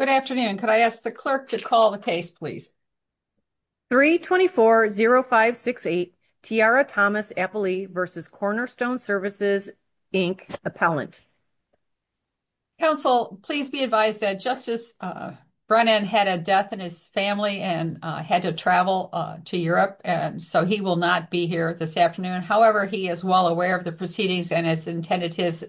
Good afternoon. Could I ask the clerk to call the case, please? 324-0568, Tiara Thomas-Appley v. Cornerstone Services, Inc., appellant. Counsel, please be advised that Justice Brennan had a death in his family and had to travel to Europe, and so he will not be here this afternoon. However, he is well aware of the proceedings and it's intended his,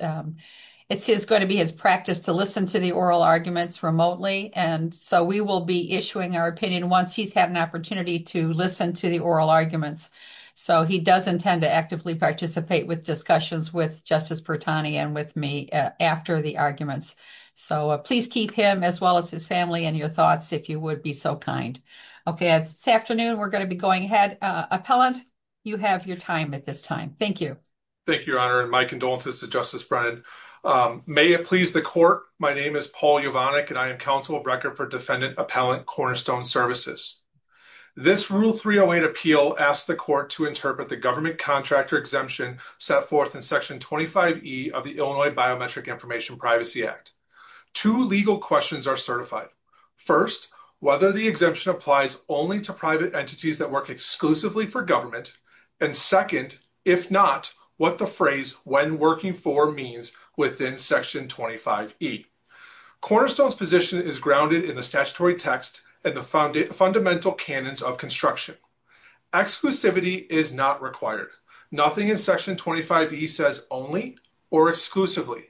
it's going to be his practice to listen to the oral arguments remotely, and so we will be issuing our opinion once he's had an opportunity to listen to the oral arguments. So he does intend to actively participate with discussions with Justice Bertani and with me after the arguments. So please keep him as well as his family in your thoughts, if you would be so kind. Okay, this afternoon, we're going to be going ahead. Appellant, you have your time at this time. Thank you. Thank you, Your Honor, and my condolences to Justice Brennan. May it please the court. My name is Paul Yovannik, and I am counsel of record for Defendant Appellant Cornerstone Services. This Rule 308 appeal asks the court to interpret the government contractor exemption set forth in Section 25E of the Illinois Biometric Information Privacy Act. Two legal questions are certified. First, whether the exemption applies only to private entities that work exclusively for government. And second, if not, what the phrase when working for means within Section 25E. Cornerstone's position is grounded in the statutory text and the fundamental canons of construction. Exclusivity is not required. Nothing in Section 25E says only or exclusively.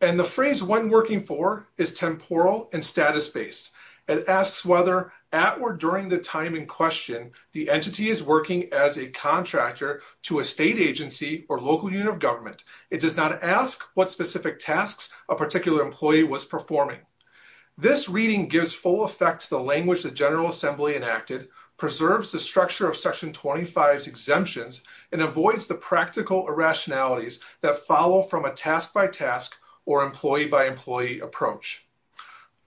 And the phrase when working for is temporal and status-based. It asks whether at or during the time in question the entity is working as a contractor to a state agency or local unit of government. It does not ask what specific tasks a particular employee was performing. This reading gives full effect to the language the General Assembly enacted, preserves the structure of Section 25's exemptions, and avoids the practical irrationalities that follow from a task-by-task or employee-by-employee approach.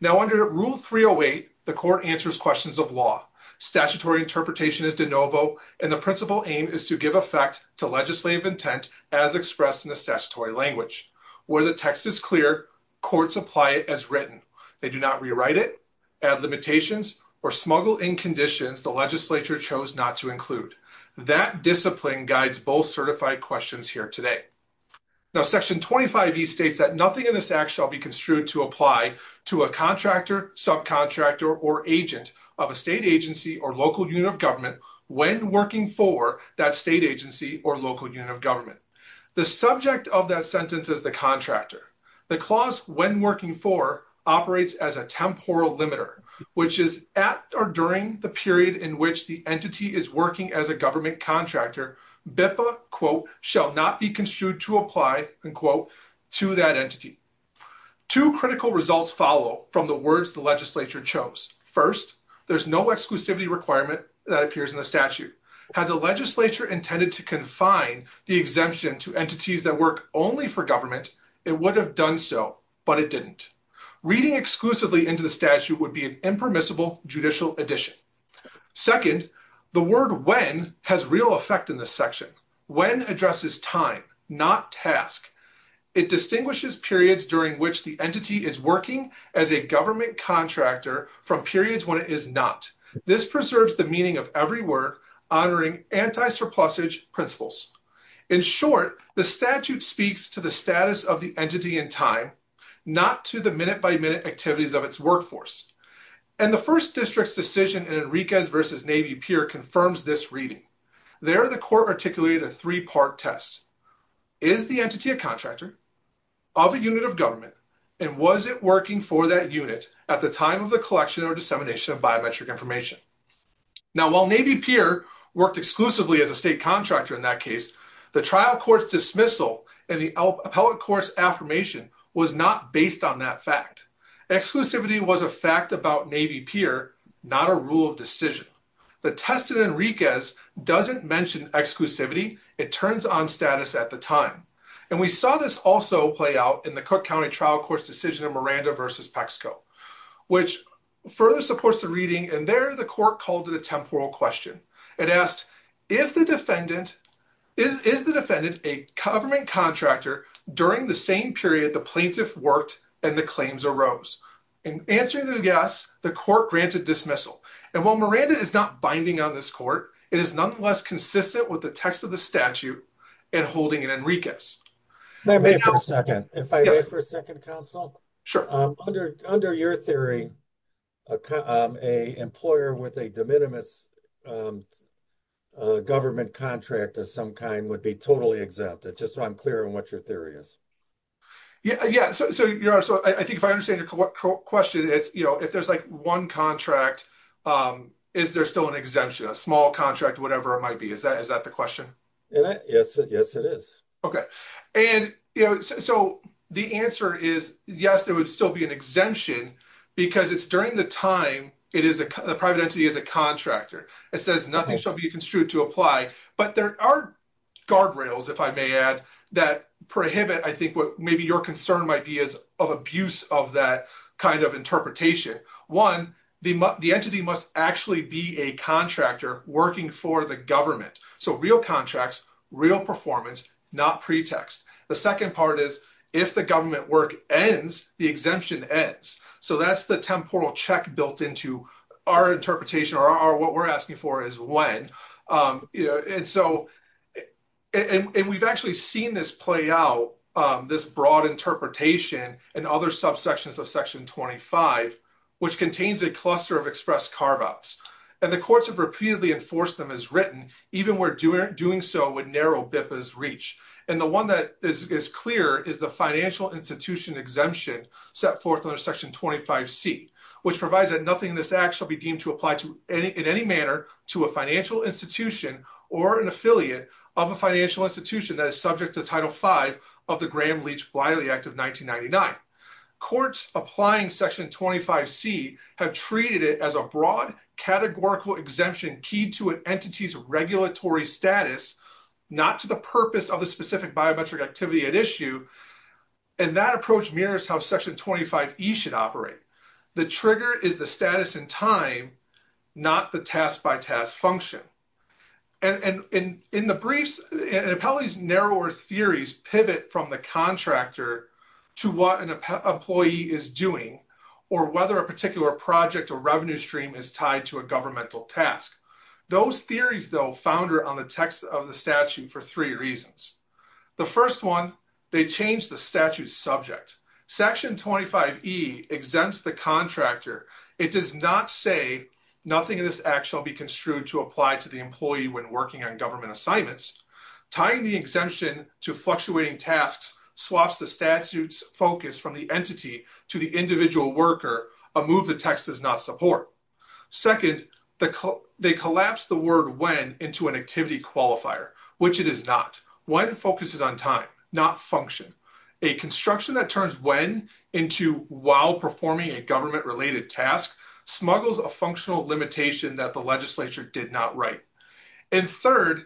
Now under Rule 308, the court answers questions of law. Statutory interpretation is de novo, and the principal aim is to give effect to legislative intent as expressed in the statutory language. Where the text is clear, courts apply it as written. They do not rewrite it, add limitations, or smuggle in conditions the legislature chose not to include. That discipline guides both certified questions here today. Now Section 25E states that nothing in this act shall be construed to apply to a contractor, subcontractor, or agent of a state agency or local unit of government when working for that state agency or local unit of government. The subject of that sentence is the contractor. The clause when working for operates as a temporal limiter, which is at or during the period in which the entity is working as a government contractor. BIPA, quote, shall not be construed to apply, unquote, to that entity. Two critical results follow from the words the legislature chose. First, there's no exclusivity requirement that appears in the statute. Had the legislature intended to confine the exemption to entities that work only for government, it would have done so, but it didn't. Reading exclusively into the statute would be an impermissible judicial addition. Second, the word when has real effect in this section. When addresses time, not task. It distinguishes periods during which the entity is working as a government contractor from periods when it is not. This preserves the meaning of every word honoring anti-surplusage principles. In short, the statute speaks to the status of the entity in time, not to the minute-by-minute activities of its workforce. And the first district's decision in Enriquez v. Navy Pier confirms this reading. There, the court articulated a three-part test. Is the entity a contractor of a unit of government? And was it working for that unit at the time of the collection or dissemination of biometric information? Now, while Navy Pier worked exclusively as a state contractor in that case, the trial court's dismissal and the appellate court's affirmation was not based on that fact. Exclusivity was a fact about Navy Pier, not a rule of decision. The test in Enriquez doesn't mention exclusivity. It turns on status at the time. And we saw this also play out in the Cook County trial court's decision in Miranda v. Pexco, which further supports the reading. And there, the court called it a temporal question. It asked, is the defendant a government contractor during the same period the plaintiff worked and the claims arose? And answering the yes, the court granted dismissal. And while Miranda is not binding on this court, it is nonetheless consistent with the text of the statute and holding in Enriquez. May I ask for a second? If I may ask for a second, counsel? Sure. Under your theory, a employer with a de minimis government contract of some kind would be totally exempt. It's just so I'm clear on what your theory is. Yeah, yeah. So you're right. So I think if I understand your question, it's, you know, if there's like one contract, is there still an exemption, a small contract, whatever it might be? Is that the question? Yes. Yes, it is. Okay. And so the answer is, yes, there would still be an exemption because it's during the time it is a private entity is a contractor. It says nothing shall be construed to apply, but there are guardrails, if I may add, that prohibit, I think, what maybe your concern might be is of abuse of that kind of interpretation. One, the entity must actually be a contractor working for the government. So real contracts, real performance, not pretext. The second part is, if the government work ends, the exemption ends. So that's the temporal check built into our interpretation or what we're asking for is when. And so and we've actually seen this play out, this broad interpretation and other subsections of Section 25, which contains a cluster of express carve outs. And the courts have repeatedly enforced them as written, even we're doing so with narrow BIPAs reach. And the one that is clear is the financial institution exemption set forth under Section 25C, which provides that nothing in this act shall be deemed to apply to any in any manner to a financial institution or an affiliate of a financial institution that is subject to Title 5 of the Graham Leach Bliley Act of 1999. Courts applying Section 25C have treated it as a broad categorical exemption key to an entity's regulatory status, not to the purpose of the specific biometric activity at issue. And that approach mirrors how Section 25E should operate. The trigger is the status in time, not the task by task function. And in the briefs, an appellee's narrower theories pivot from the contractor to what an employee is doing or whether a particular project or revenue stream is tied to a governmental task. Those theories, though, founder on the text of the statute for three reasons. The first one, they change the statute subject. Section 25E exempts the contractor. It does not say nothing in this act shall be construed to apply to the employee when working on government assignments. Tying the exemption to fluctuating tasks swaps the statute's focus from the entity to the individual worker, a move the text does not support. Second, they collapse the word when into an activity qualifier, which it is not. When focuses on time, not function. A construction that turns when into while performing a government-related task smuggles a functional limitation that the legislature did not write. And third,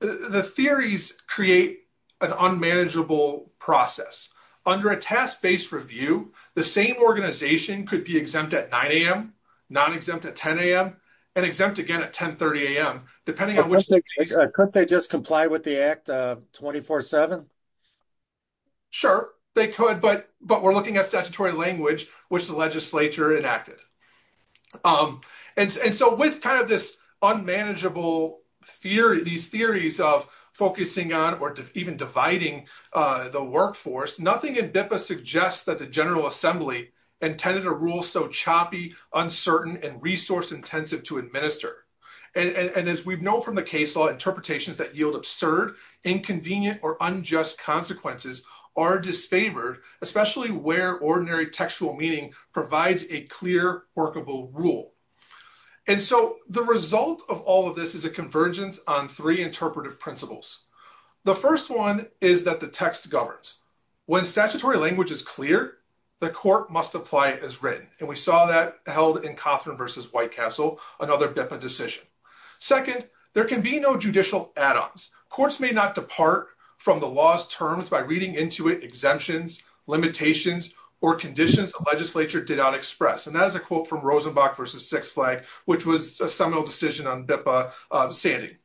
the theories create an unmanageable process. Under a task-based review, the same organization could be exempt at 9 a.m., non-exempt at 10 a.m., and exempt again at 10.30 a.m., depending on which case. Could they just comply with the act 24-7? Sure, they could, but we're looking at statutory language, which the legislature enacted. And so with kind of this unmanageable theory, these theories of focusing on or even dividing the workforce, nothing in BIPA suggests that the General Assembly intended a rule so choppy, uncertain, and resource-intensive to administer. And as we've known from the case law, interpretations that yield absurd, inconvenient, or unjust consequences are disfavored, especially where ordinary textual meaning provides a clear, workable rule. And so the result of all of this is a convergence on three interpretive principles. The first one is that the text governs. When statutory language is clear, the court must apply as written, and we saw that held in Cothran v. Whitecastle, another BIPA decision. Second, there can be no judicial add-ons. Courts may not depart from the law's terms by reading into it exemptions, limitations, or conditions the legislature did not express, and that is a quote from Rosenbach v. Sixth Flag, which was a seminal decision on BIPA standing.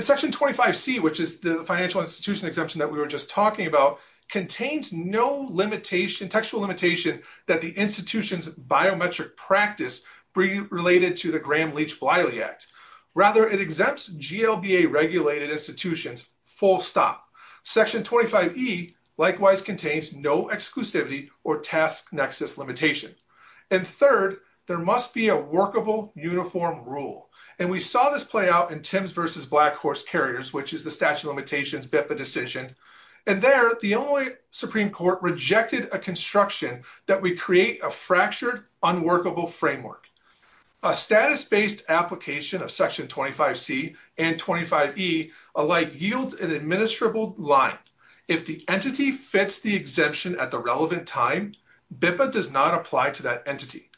Section 25C, which is the financial institution exemption that we were just talking about, contains no textual limitation that the institution's biometric practice related to the Graham-Leach-Bliley Act. Rather, it exempts GLBA-regulated institutions, full stop. Section 25E likewise contains no exclusivity or task nexus limitation. And third, there must be a workable, uniform rule. And we saw this play out in Timbs v. Black Horse Carriers, which is the statute of limitations BIPA decision. And there, the Illinois Supreme Court rejected a construction that would create a fractured, unworkable framework. A status-based application of Section 25C and 25E alike yields an administrable line. If the entity fits the exemption at the relevant time, BIPA does not apply to that entity.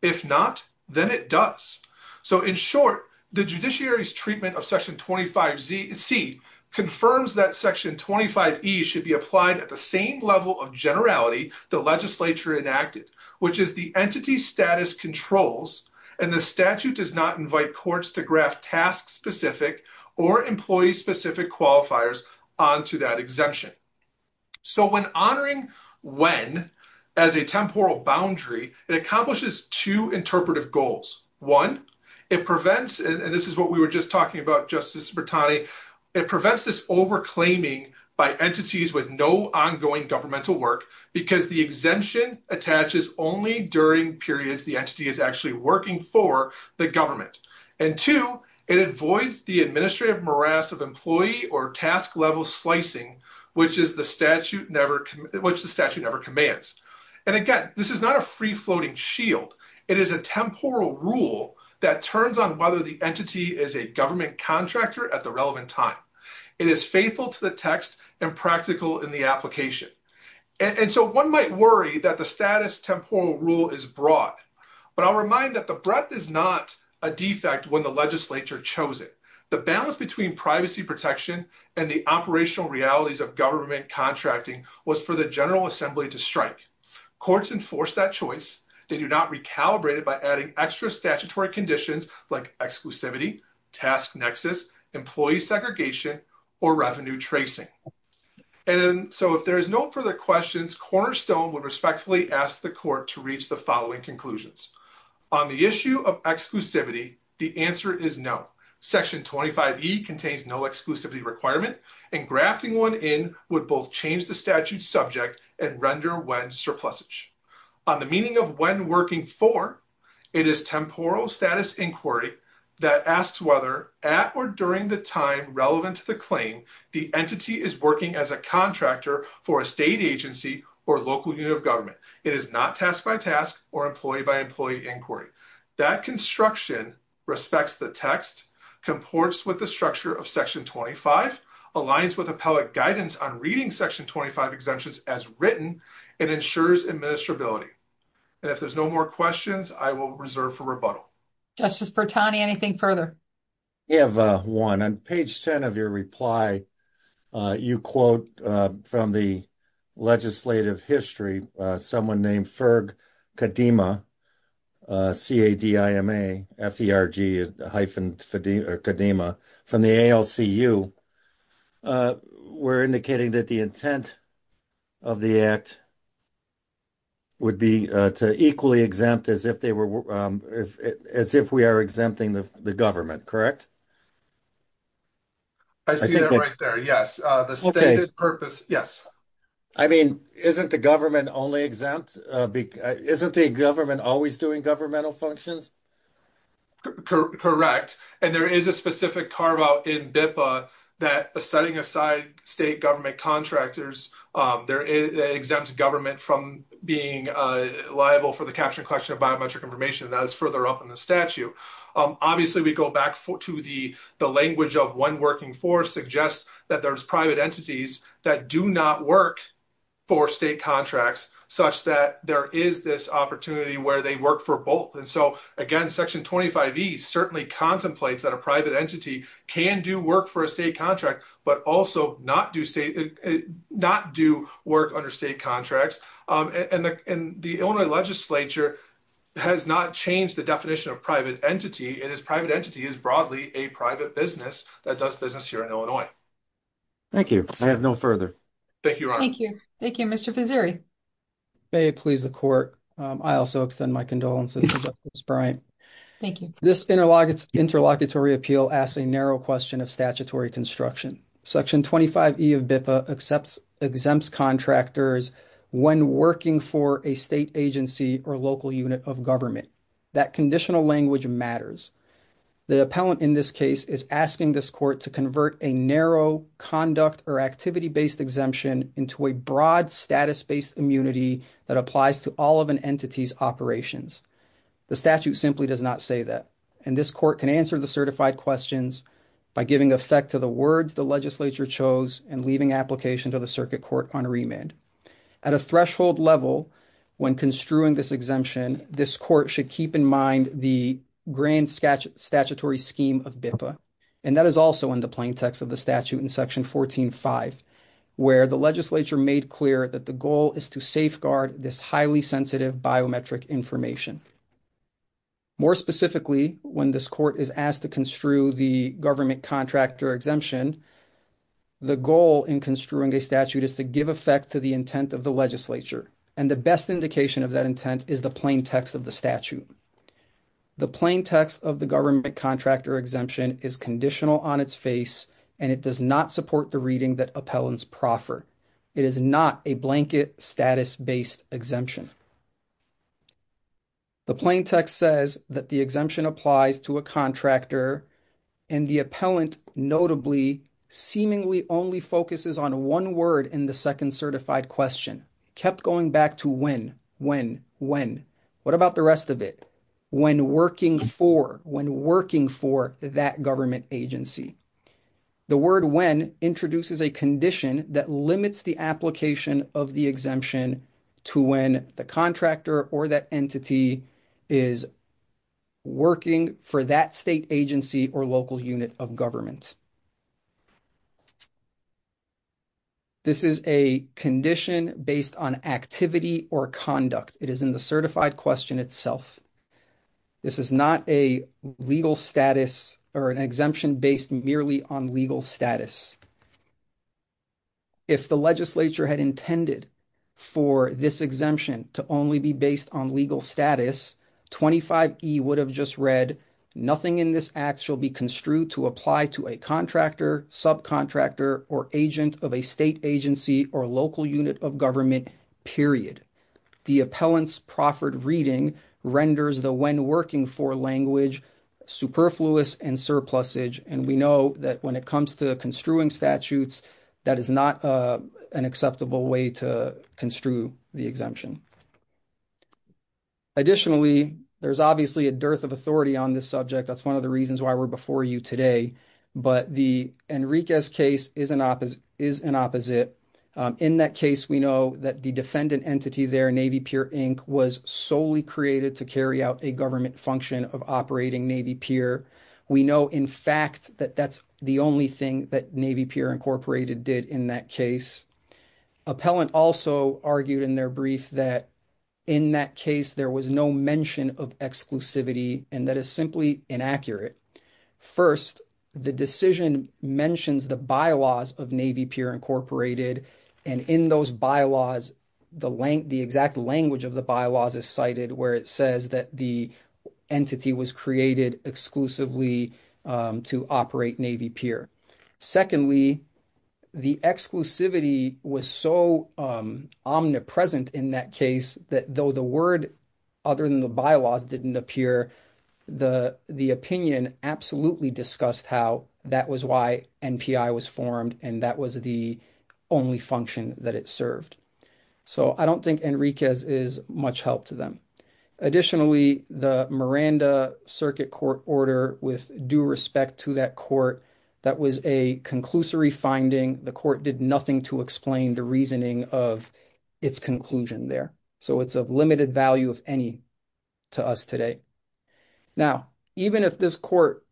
If not, then it does. So, in short, the judiciary's treatment of Section 25C confirms that Section 25E should be applied at the same level of generality the legislature enacted, which is the entity status controls. And the statute does not invite courts to graft task-specific or employee-specific qualifiers onto that exemption. So, when honoring when as a temporal boundary, it accomplishes two interpretive goals. One, it prevents, and this is what we were just talking about, Justice Bertani, it prevents this over-claiming by entities with no ongoing governmental work, because the exemption attaches only during periods the entity is actually working for the government. And two, it avoids the administrative morass of employee or task-level slicing, which the statute never commands. And again, this is not a free-floating shield. It is a temporal rule that turns on whether the entity is a government contractor at the relevant time. It is faithful to the text and practical in the application. And so one might worry that the status temporal rule is broad, but I'll remind that the breadth is not a defect when the legislature chose it. The balance between privacy protection and the operational realities of government contracting was for the General Assembly to strike. Courts enforced that choice. They do not recalibrate it by adding extra statutory conditions like exclusivity, task nexus, employee segregation, or revenue tracing. And so if there is no further questions, Cornerstone would respectfully ask the court to reach the following conclusions. On the issue of exclusivity, the answer is no. Section 25E contains no exclusivity requirement, and grafting one in would both change the statute's subject and render WEN surplusage. On the meaning of WEN working for, it is temporal status inquiry that asks whether, at or during the time relevant to the claim, the entity is working as a contractor for a state agency or local unit of government. It is not task-by-task or employee-by-employee inquiry. That construction respects the text, comports with the structure of Section 25, aligns with appellate guidance on reading Section 25 exemptions as written, and ensures administrability. And if there's no more questions, I will reserve for rebuttal. Justice Bertani, anything further? I have one. On page 10 of your reply, you quote from the legislative history someone named Ferg Kadima, C-A-D-I-M-A, F-E-R-G hyphen Kadima, from the ALCU. We're indicating that the intent of the act would be to equally exempt as if we are exempting the government, correct? I see that right there, yes. The standard purpose, yes. I mean, isn't the government only exempt? Isn't the government always doing governmental functions? Correct. And there is a specific carve-out in BIPA that setting aside state government contractors, it exempts government from being liable for the capture and collection of biometric information. That is further up in the statute. Obviously, we go back to the language of one working force suggests that there's private entities that do not work for state contracts such that there is this opportunity where they work for both. And so, again, Section 25E certainly contemplates that a private entity can do work for a state contract, but also not do work under state contracts. And the Illinois legislature has not changed the definition of private entity, and this private entity is broadly a private business that does business here in Illinois. Thank you. I have no further. Thank you, Your Honor. Thank you. Thank you. Mr. Pizziri? May it please the Court. I also extend my condolences to Justice Bryant. Thank you. This interlocutory appeal asks a narrow question of statutory construction. Section 25E of BIPA exempts contractors when working for a state agency or local unit of government. That conditional language matters. The appellant in this case is asking this court to convert a narrow conduct or activity-based exemption into a broad status-based immunity that applies to all of an entity's operations. The statute simply does not say that. And this court can answer the certified questions by giving effect to the words the legislature chose and leaving application to the circuit court on remand. At a threshold level, when construing this exemption, this court should keep in mind the grand statutory scheme of BIPA. And that is also in the plaintext of the statute in Section 14.5, where the legislature made clear that the goal is to safeguard this highly sensitive biometric information. More specifically, when this court is asked to construe the government contractor exemption, the goal in construing a statute is to give effect to the intent of the legislature. And the best indication of that intent is the plaintext of the statute. The plaintext of the government contractor exemption is conditional on its face, and it does not support the reading that appellants proffer. It is not a blanket status-based exemption. The plaintext says that the exemption applies to a contractor, and the appellant notably seemingly only focuses on one word in the second certified question. Kept going back to when, when, when. What about the rest of it? When working for, when working for that government agency. The word when introduces a condition that limits the application of the exemption to when the contractor or that entity is working for that state agency or local unit of government. This is a condition based on activity or conduct. It is in the certified question itself. This is not a legal status or an exemption based merely on legal status. If the legislature had intended for this exemption to only be based on legal status, 25E would have just read, nothing in this act shall be construed to apply to a contractor, subcontractor, or agent of a state agency or local unit of government, period. The appellant's proffered reading renders the when working for language superfluous and surplusage, and we know that when it comes to construing statutes, that is not an acceptable way to construe the exemption. Additionally, there's obviously a dearth of authority on this subject. That's one of the reasons why we're before you today, but the Enriquez case is an opposite. In that case, we know that the defendant entity there, Navy Pier Inc., was solely created to carry out a government function of operating Navy Pier. We know, in fact, that that's the only thing that Navy Pier Incorporated did in that case. Appellant also argued in their brief that in that case, there was no mention of exclusivity, and that is simply inaccurate. First, the decision mentions the bylaws of Navy Pier Incorporated, and in those bylaws, the exact language of the bylaws is cited where it says that the entity was created exclusively to operate Navy Pier. Secondly, the exclusivity was so omnipresent in that case that though the word other than the bylaws didn't appear, the opinion absolutely discussed how that was why NPI was formed, and that was the only function that it served. So, I don't think Enriquez is much help to them. Additionally, the Miranda Circuit Court Order, with due respect to that court, that was a conclusory finding. The court did nothing to explain the reasoning of its conclusion there. So, it's of limited value, if any, to us today. Now, even if this court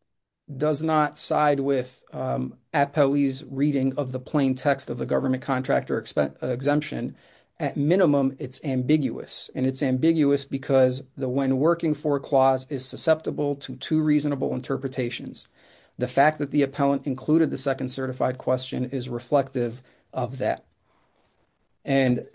does not side with Appellee's reading of the plain text of the Government Contractor Exemption, at minimum, it's ambiguous, and it's ambiguous because the when working for clause is susceptible to two reasonable interpretations. The fact that the appellant included the second certified question is reflective of that. And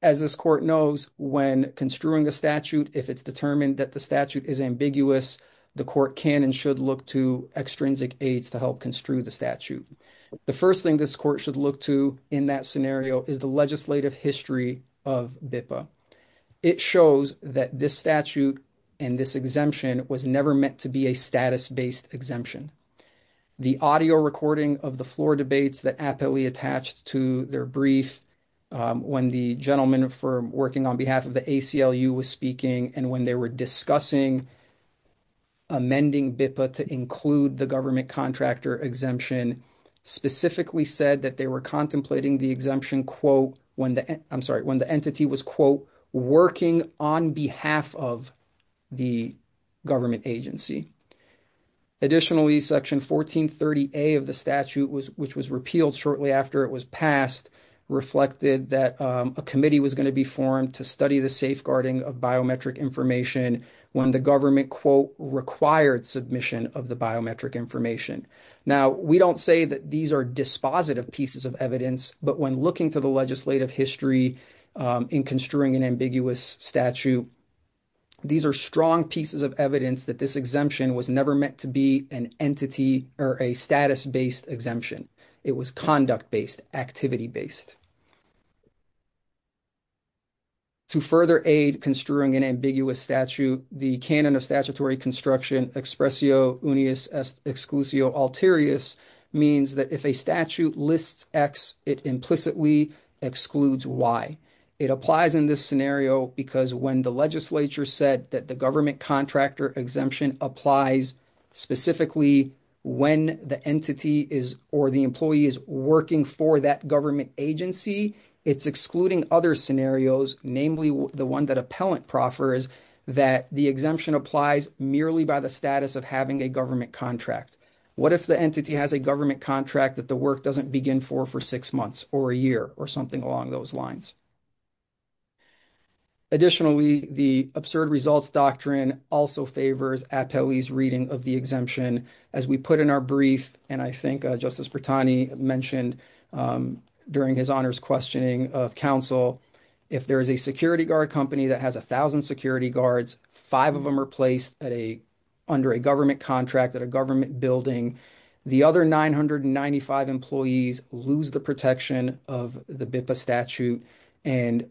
as this court knows, when construing a statute, if it's determined that the statute is ambiguous, the court can and should look to extrinsic aides to help construe the statute. The first thing this court should look to in that scenario is the legislative history of BIPA. It shows that this statute and this exemption was never meant to be a status-based exemption. The audio recording of the floor debates that Appellee attached to their brief, when the gentleman working on behalf of the ACLU was speaking and when they were discussing amending BIPA to include the Government Contractor Exemption, specifically said that they were contemplating the exemption, quote, when the entity was, quote, working on behalf of the government agency. Additionally, Section 1430A of the statute, which was repealed shortly after it was passed, reflected that a committee was going to be formed to study the safeguarding of biometric information when the government, quote, required submission of the biometric information. Now, we don't say that these are dispositive pieces of evidence, but when looking to the legislative history in construing an ambiguous statute, these are strong pieces of evidence that this exemption was never meant to be an entity or a status-based exemption. It was conduct-based, activity-based. To further aid construing an ambiguous statute, the canon of statutory construction, expressio unius exclusio alterius, means that if a statute lists X, it implicitly excludes Y. It applies in this scenario because when the legislature said that the Government Contractor Exemption applies specifically when the entity is or the employee is working for that government agency, it's excluding other scenarios, namely the one that appellant proffers, that the exemption applies merely by the status of having a government contract. What if the entity has a government contract that the work doesn't begin for for six months or a year or something along those lines? Additionally, the Absurd Results Doctrine also favors appellee's reading of the exemption. As we put in our brief, and I think Justice Bertani mentioned during his honors questioning of counsel, if there is a security guard company that has a thousand security guards, five of them are placed under a government contract at a government building, the other 995 employees lose the protection of the BIPA statute. And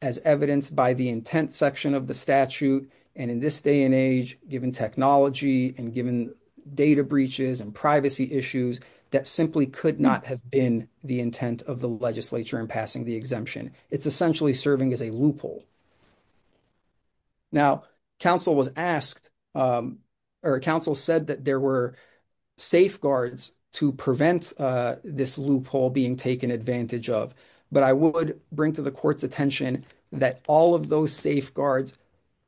as evidenced by the intent section of the statute, and in this day and age, given technology and given data breaches and privacy issues, that simply could not have been the intent of the legislature in passing the exemption. It's essentially serving as a loophole. Now, counsel said that there were safeguards to prevent this loophole being taken advantage of, but I would bring to the court's attention that all of those safeguards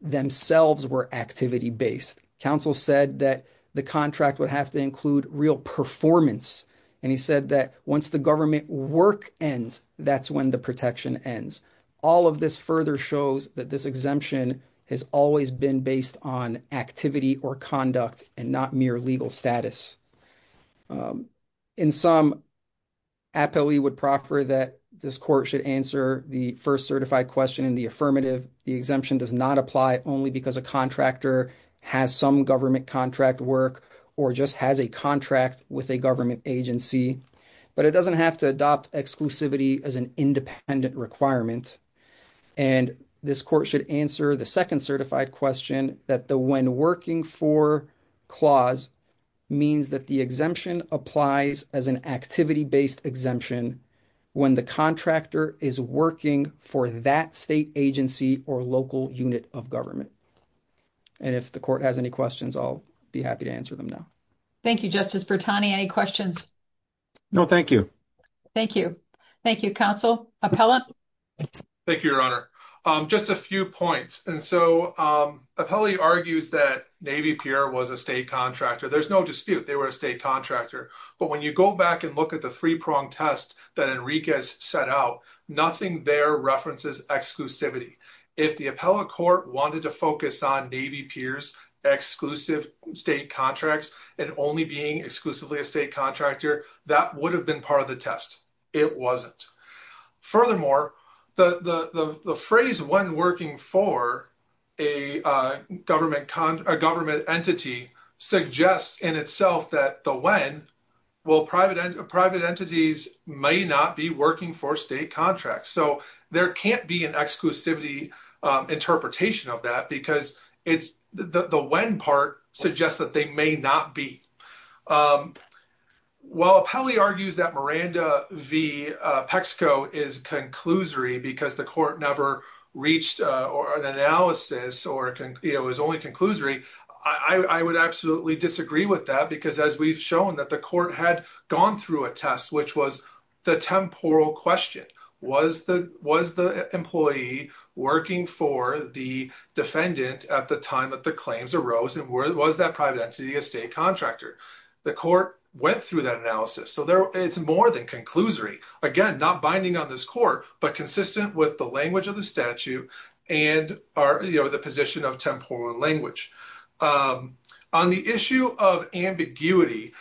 themselves were activity-based. Counsel said that the contract would have to include real performance, and he said that once the government work ends, that's when the protection ends. All of this further shows that this exemption has always been based on activity or conduct, and not mere legal status. In sum, APOE would proffer that this court should answer the first certified question in the affirmative. The exemption does not apply only because a contractor has some government contract work, or just has a contract with a government agency. But it doesn't have to adopt exclusivity as an independent requirement. And this court should answer the second certified question, that the when working for clause means that the exemption applies as an activity-based exemption when the contractor is working for that state agency or local unit of government. And if the court has any questions, I'll be happy to answer them now. Thank you, Justice Bertani. Any questions? No, thank you. Thank you. Thank you, Counsel. Apella? Thank you, Your Honor. Just a few points. And so, Apella argues that Navy Pier was a state contractor. There's no dispute, they were a state contractor. But when you go back and look at the three-prong test that Enriquez set out, nothing there references exclusivity. If the Apella Court wanted to focus on Navy Pier's exclusive state contracts and only being exclusively a state contractor, that would have been part of the test. It wasn't. Furthermore, the phrase when working for a government entity suggests in itself that the when, well, private entities may not be working for state contracts. So there can't be an exclusivity interpretation of that because the when part suggests that they may not be. While Apella argues that Miranda v. Pexco is conclusory because the court never reached an analysis or it was only conclusory, I would absolutely disagree with that because as we've shown that the court had gone through a test which was the temporal question. Was the employee working for the defendant at the time that the claims arose and was that private entity a state contractor? The court went through that analysis. So it's more than conclusory. Again, not binding on this court but consistent with the language of the statute and the position of temporal language. On the issue of ambiguity,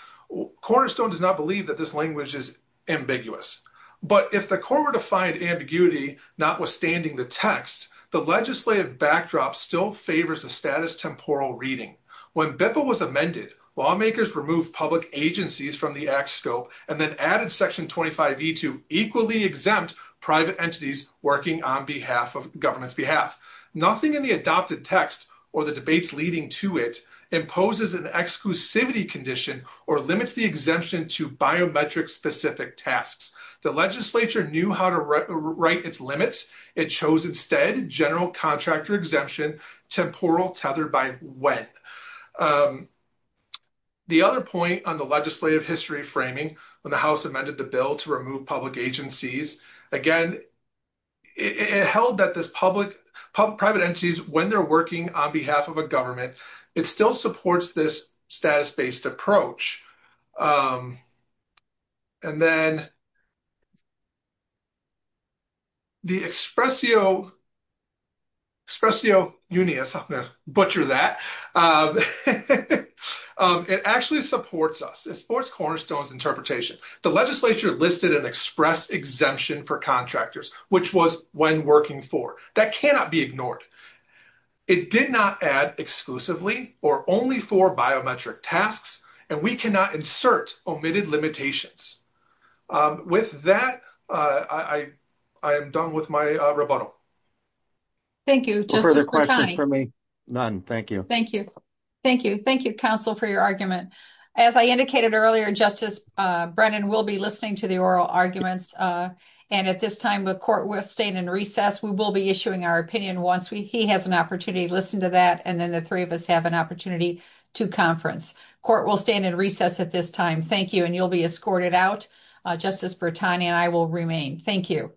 Cornerstone does not believe that this language is ambiguous. But if the court were to find ambiguity notwithstanding the text, the legislative backdrop still favors a status temporal reading. When BIPPA was amended, lawmakers removed public agencies from the act scope and then added section 25E to equally exempt private entities working on behalf of government's behalf. Nothing in the adopted text or the debates leading to it imposes an exclusivity condition or limits the exemption to biometric specific tasks. The legislature knew how to write its limits. It chose instead general contractor exemption temporal tethered by when. The other point on the legislative history framing when the House amended the bill to remove public agencies, again, it held that this public private entities when they're working on behalf of a government, it still supports this status-based approach. And then the expressio unias, I'm going to butcher that. It actually supports us. It supports Cornerstone's interpretation. The legislature listed an express exemption for contractors, which was when working for. That cannot be ignored. It did not add exclusively or only for biometric tasks, and we cannot insert omitted limitations. With that, I am done with my rebuttal. Thank you. None. Thank you. Thank you. Thank you, counsel, for your argument. As I indicated earlier, Justice Brennan, we'll be listening to the oral arguments. And at this time, the court will stay in recess. We will be issuing our opinion once he has an opportunity to listen to that, and then the three of us have an opportunity to conference. The court will stand in recess at this time. Thank you, and you'll be escorted out, Justice Brittani, and I will remain. Thank you.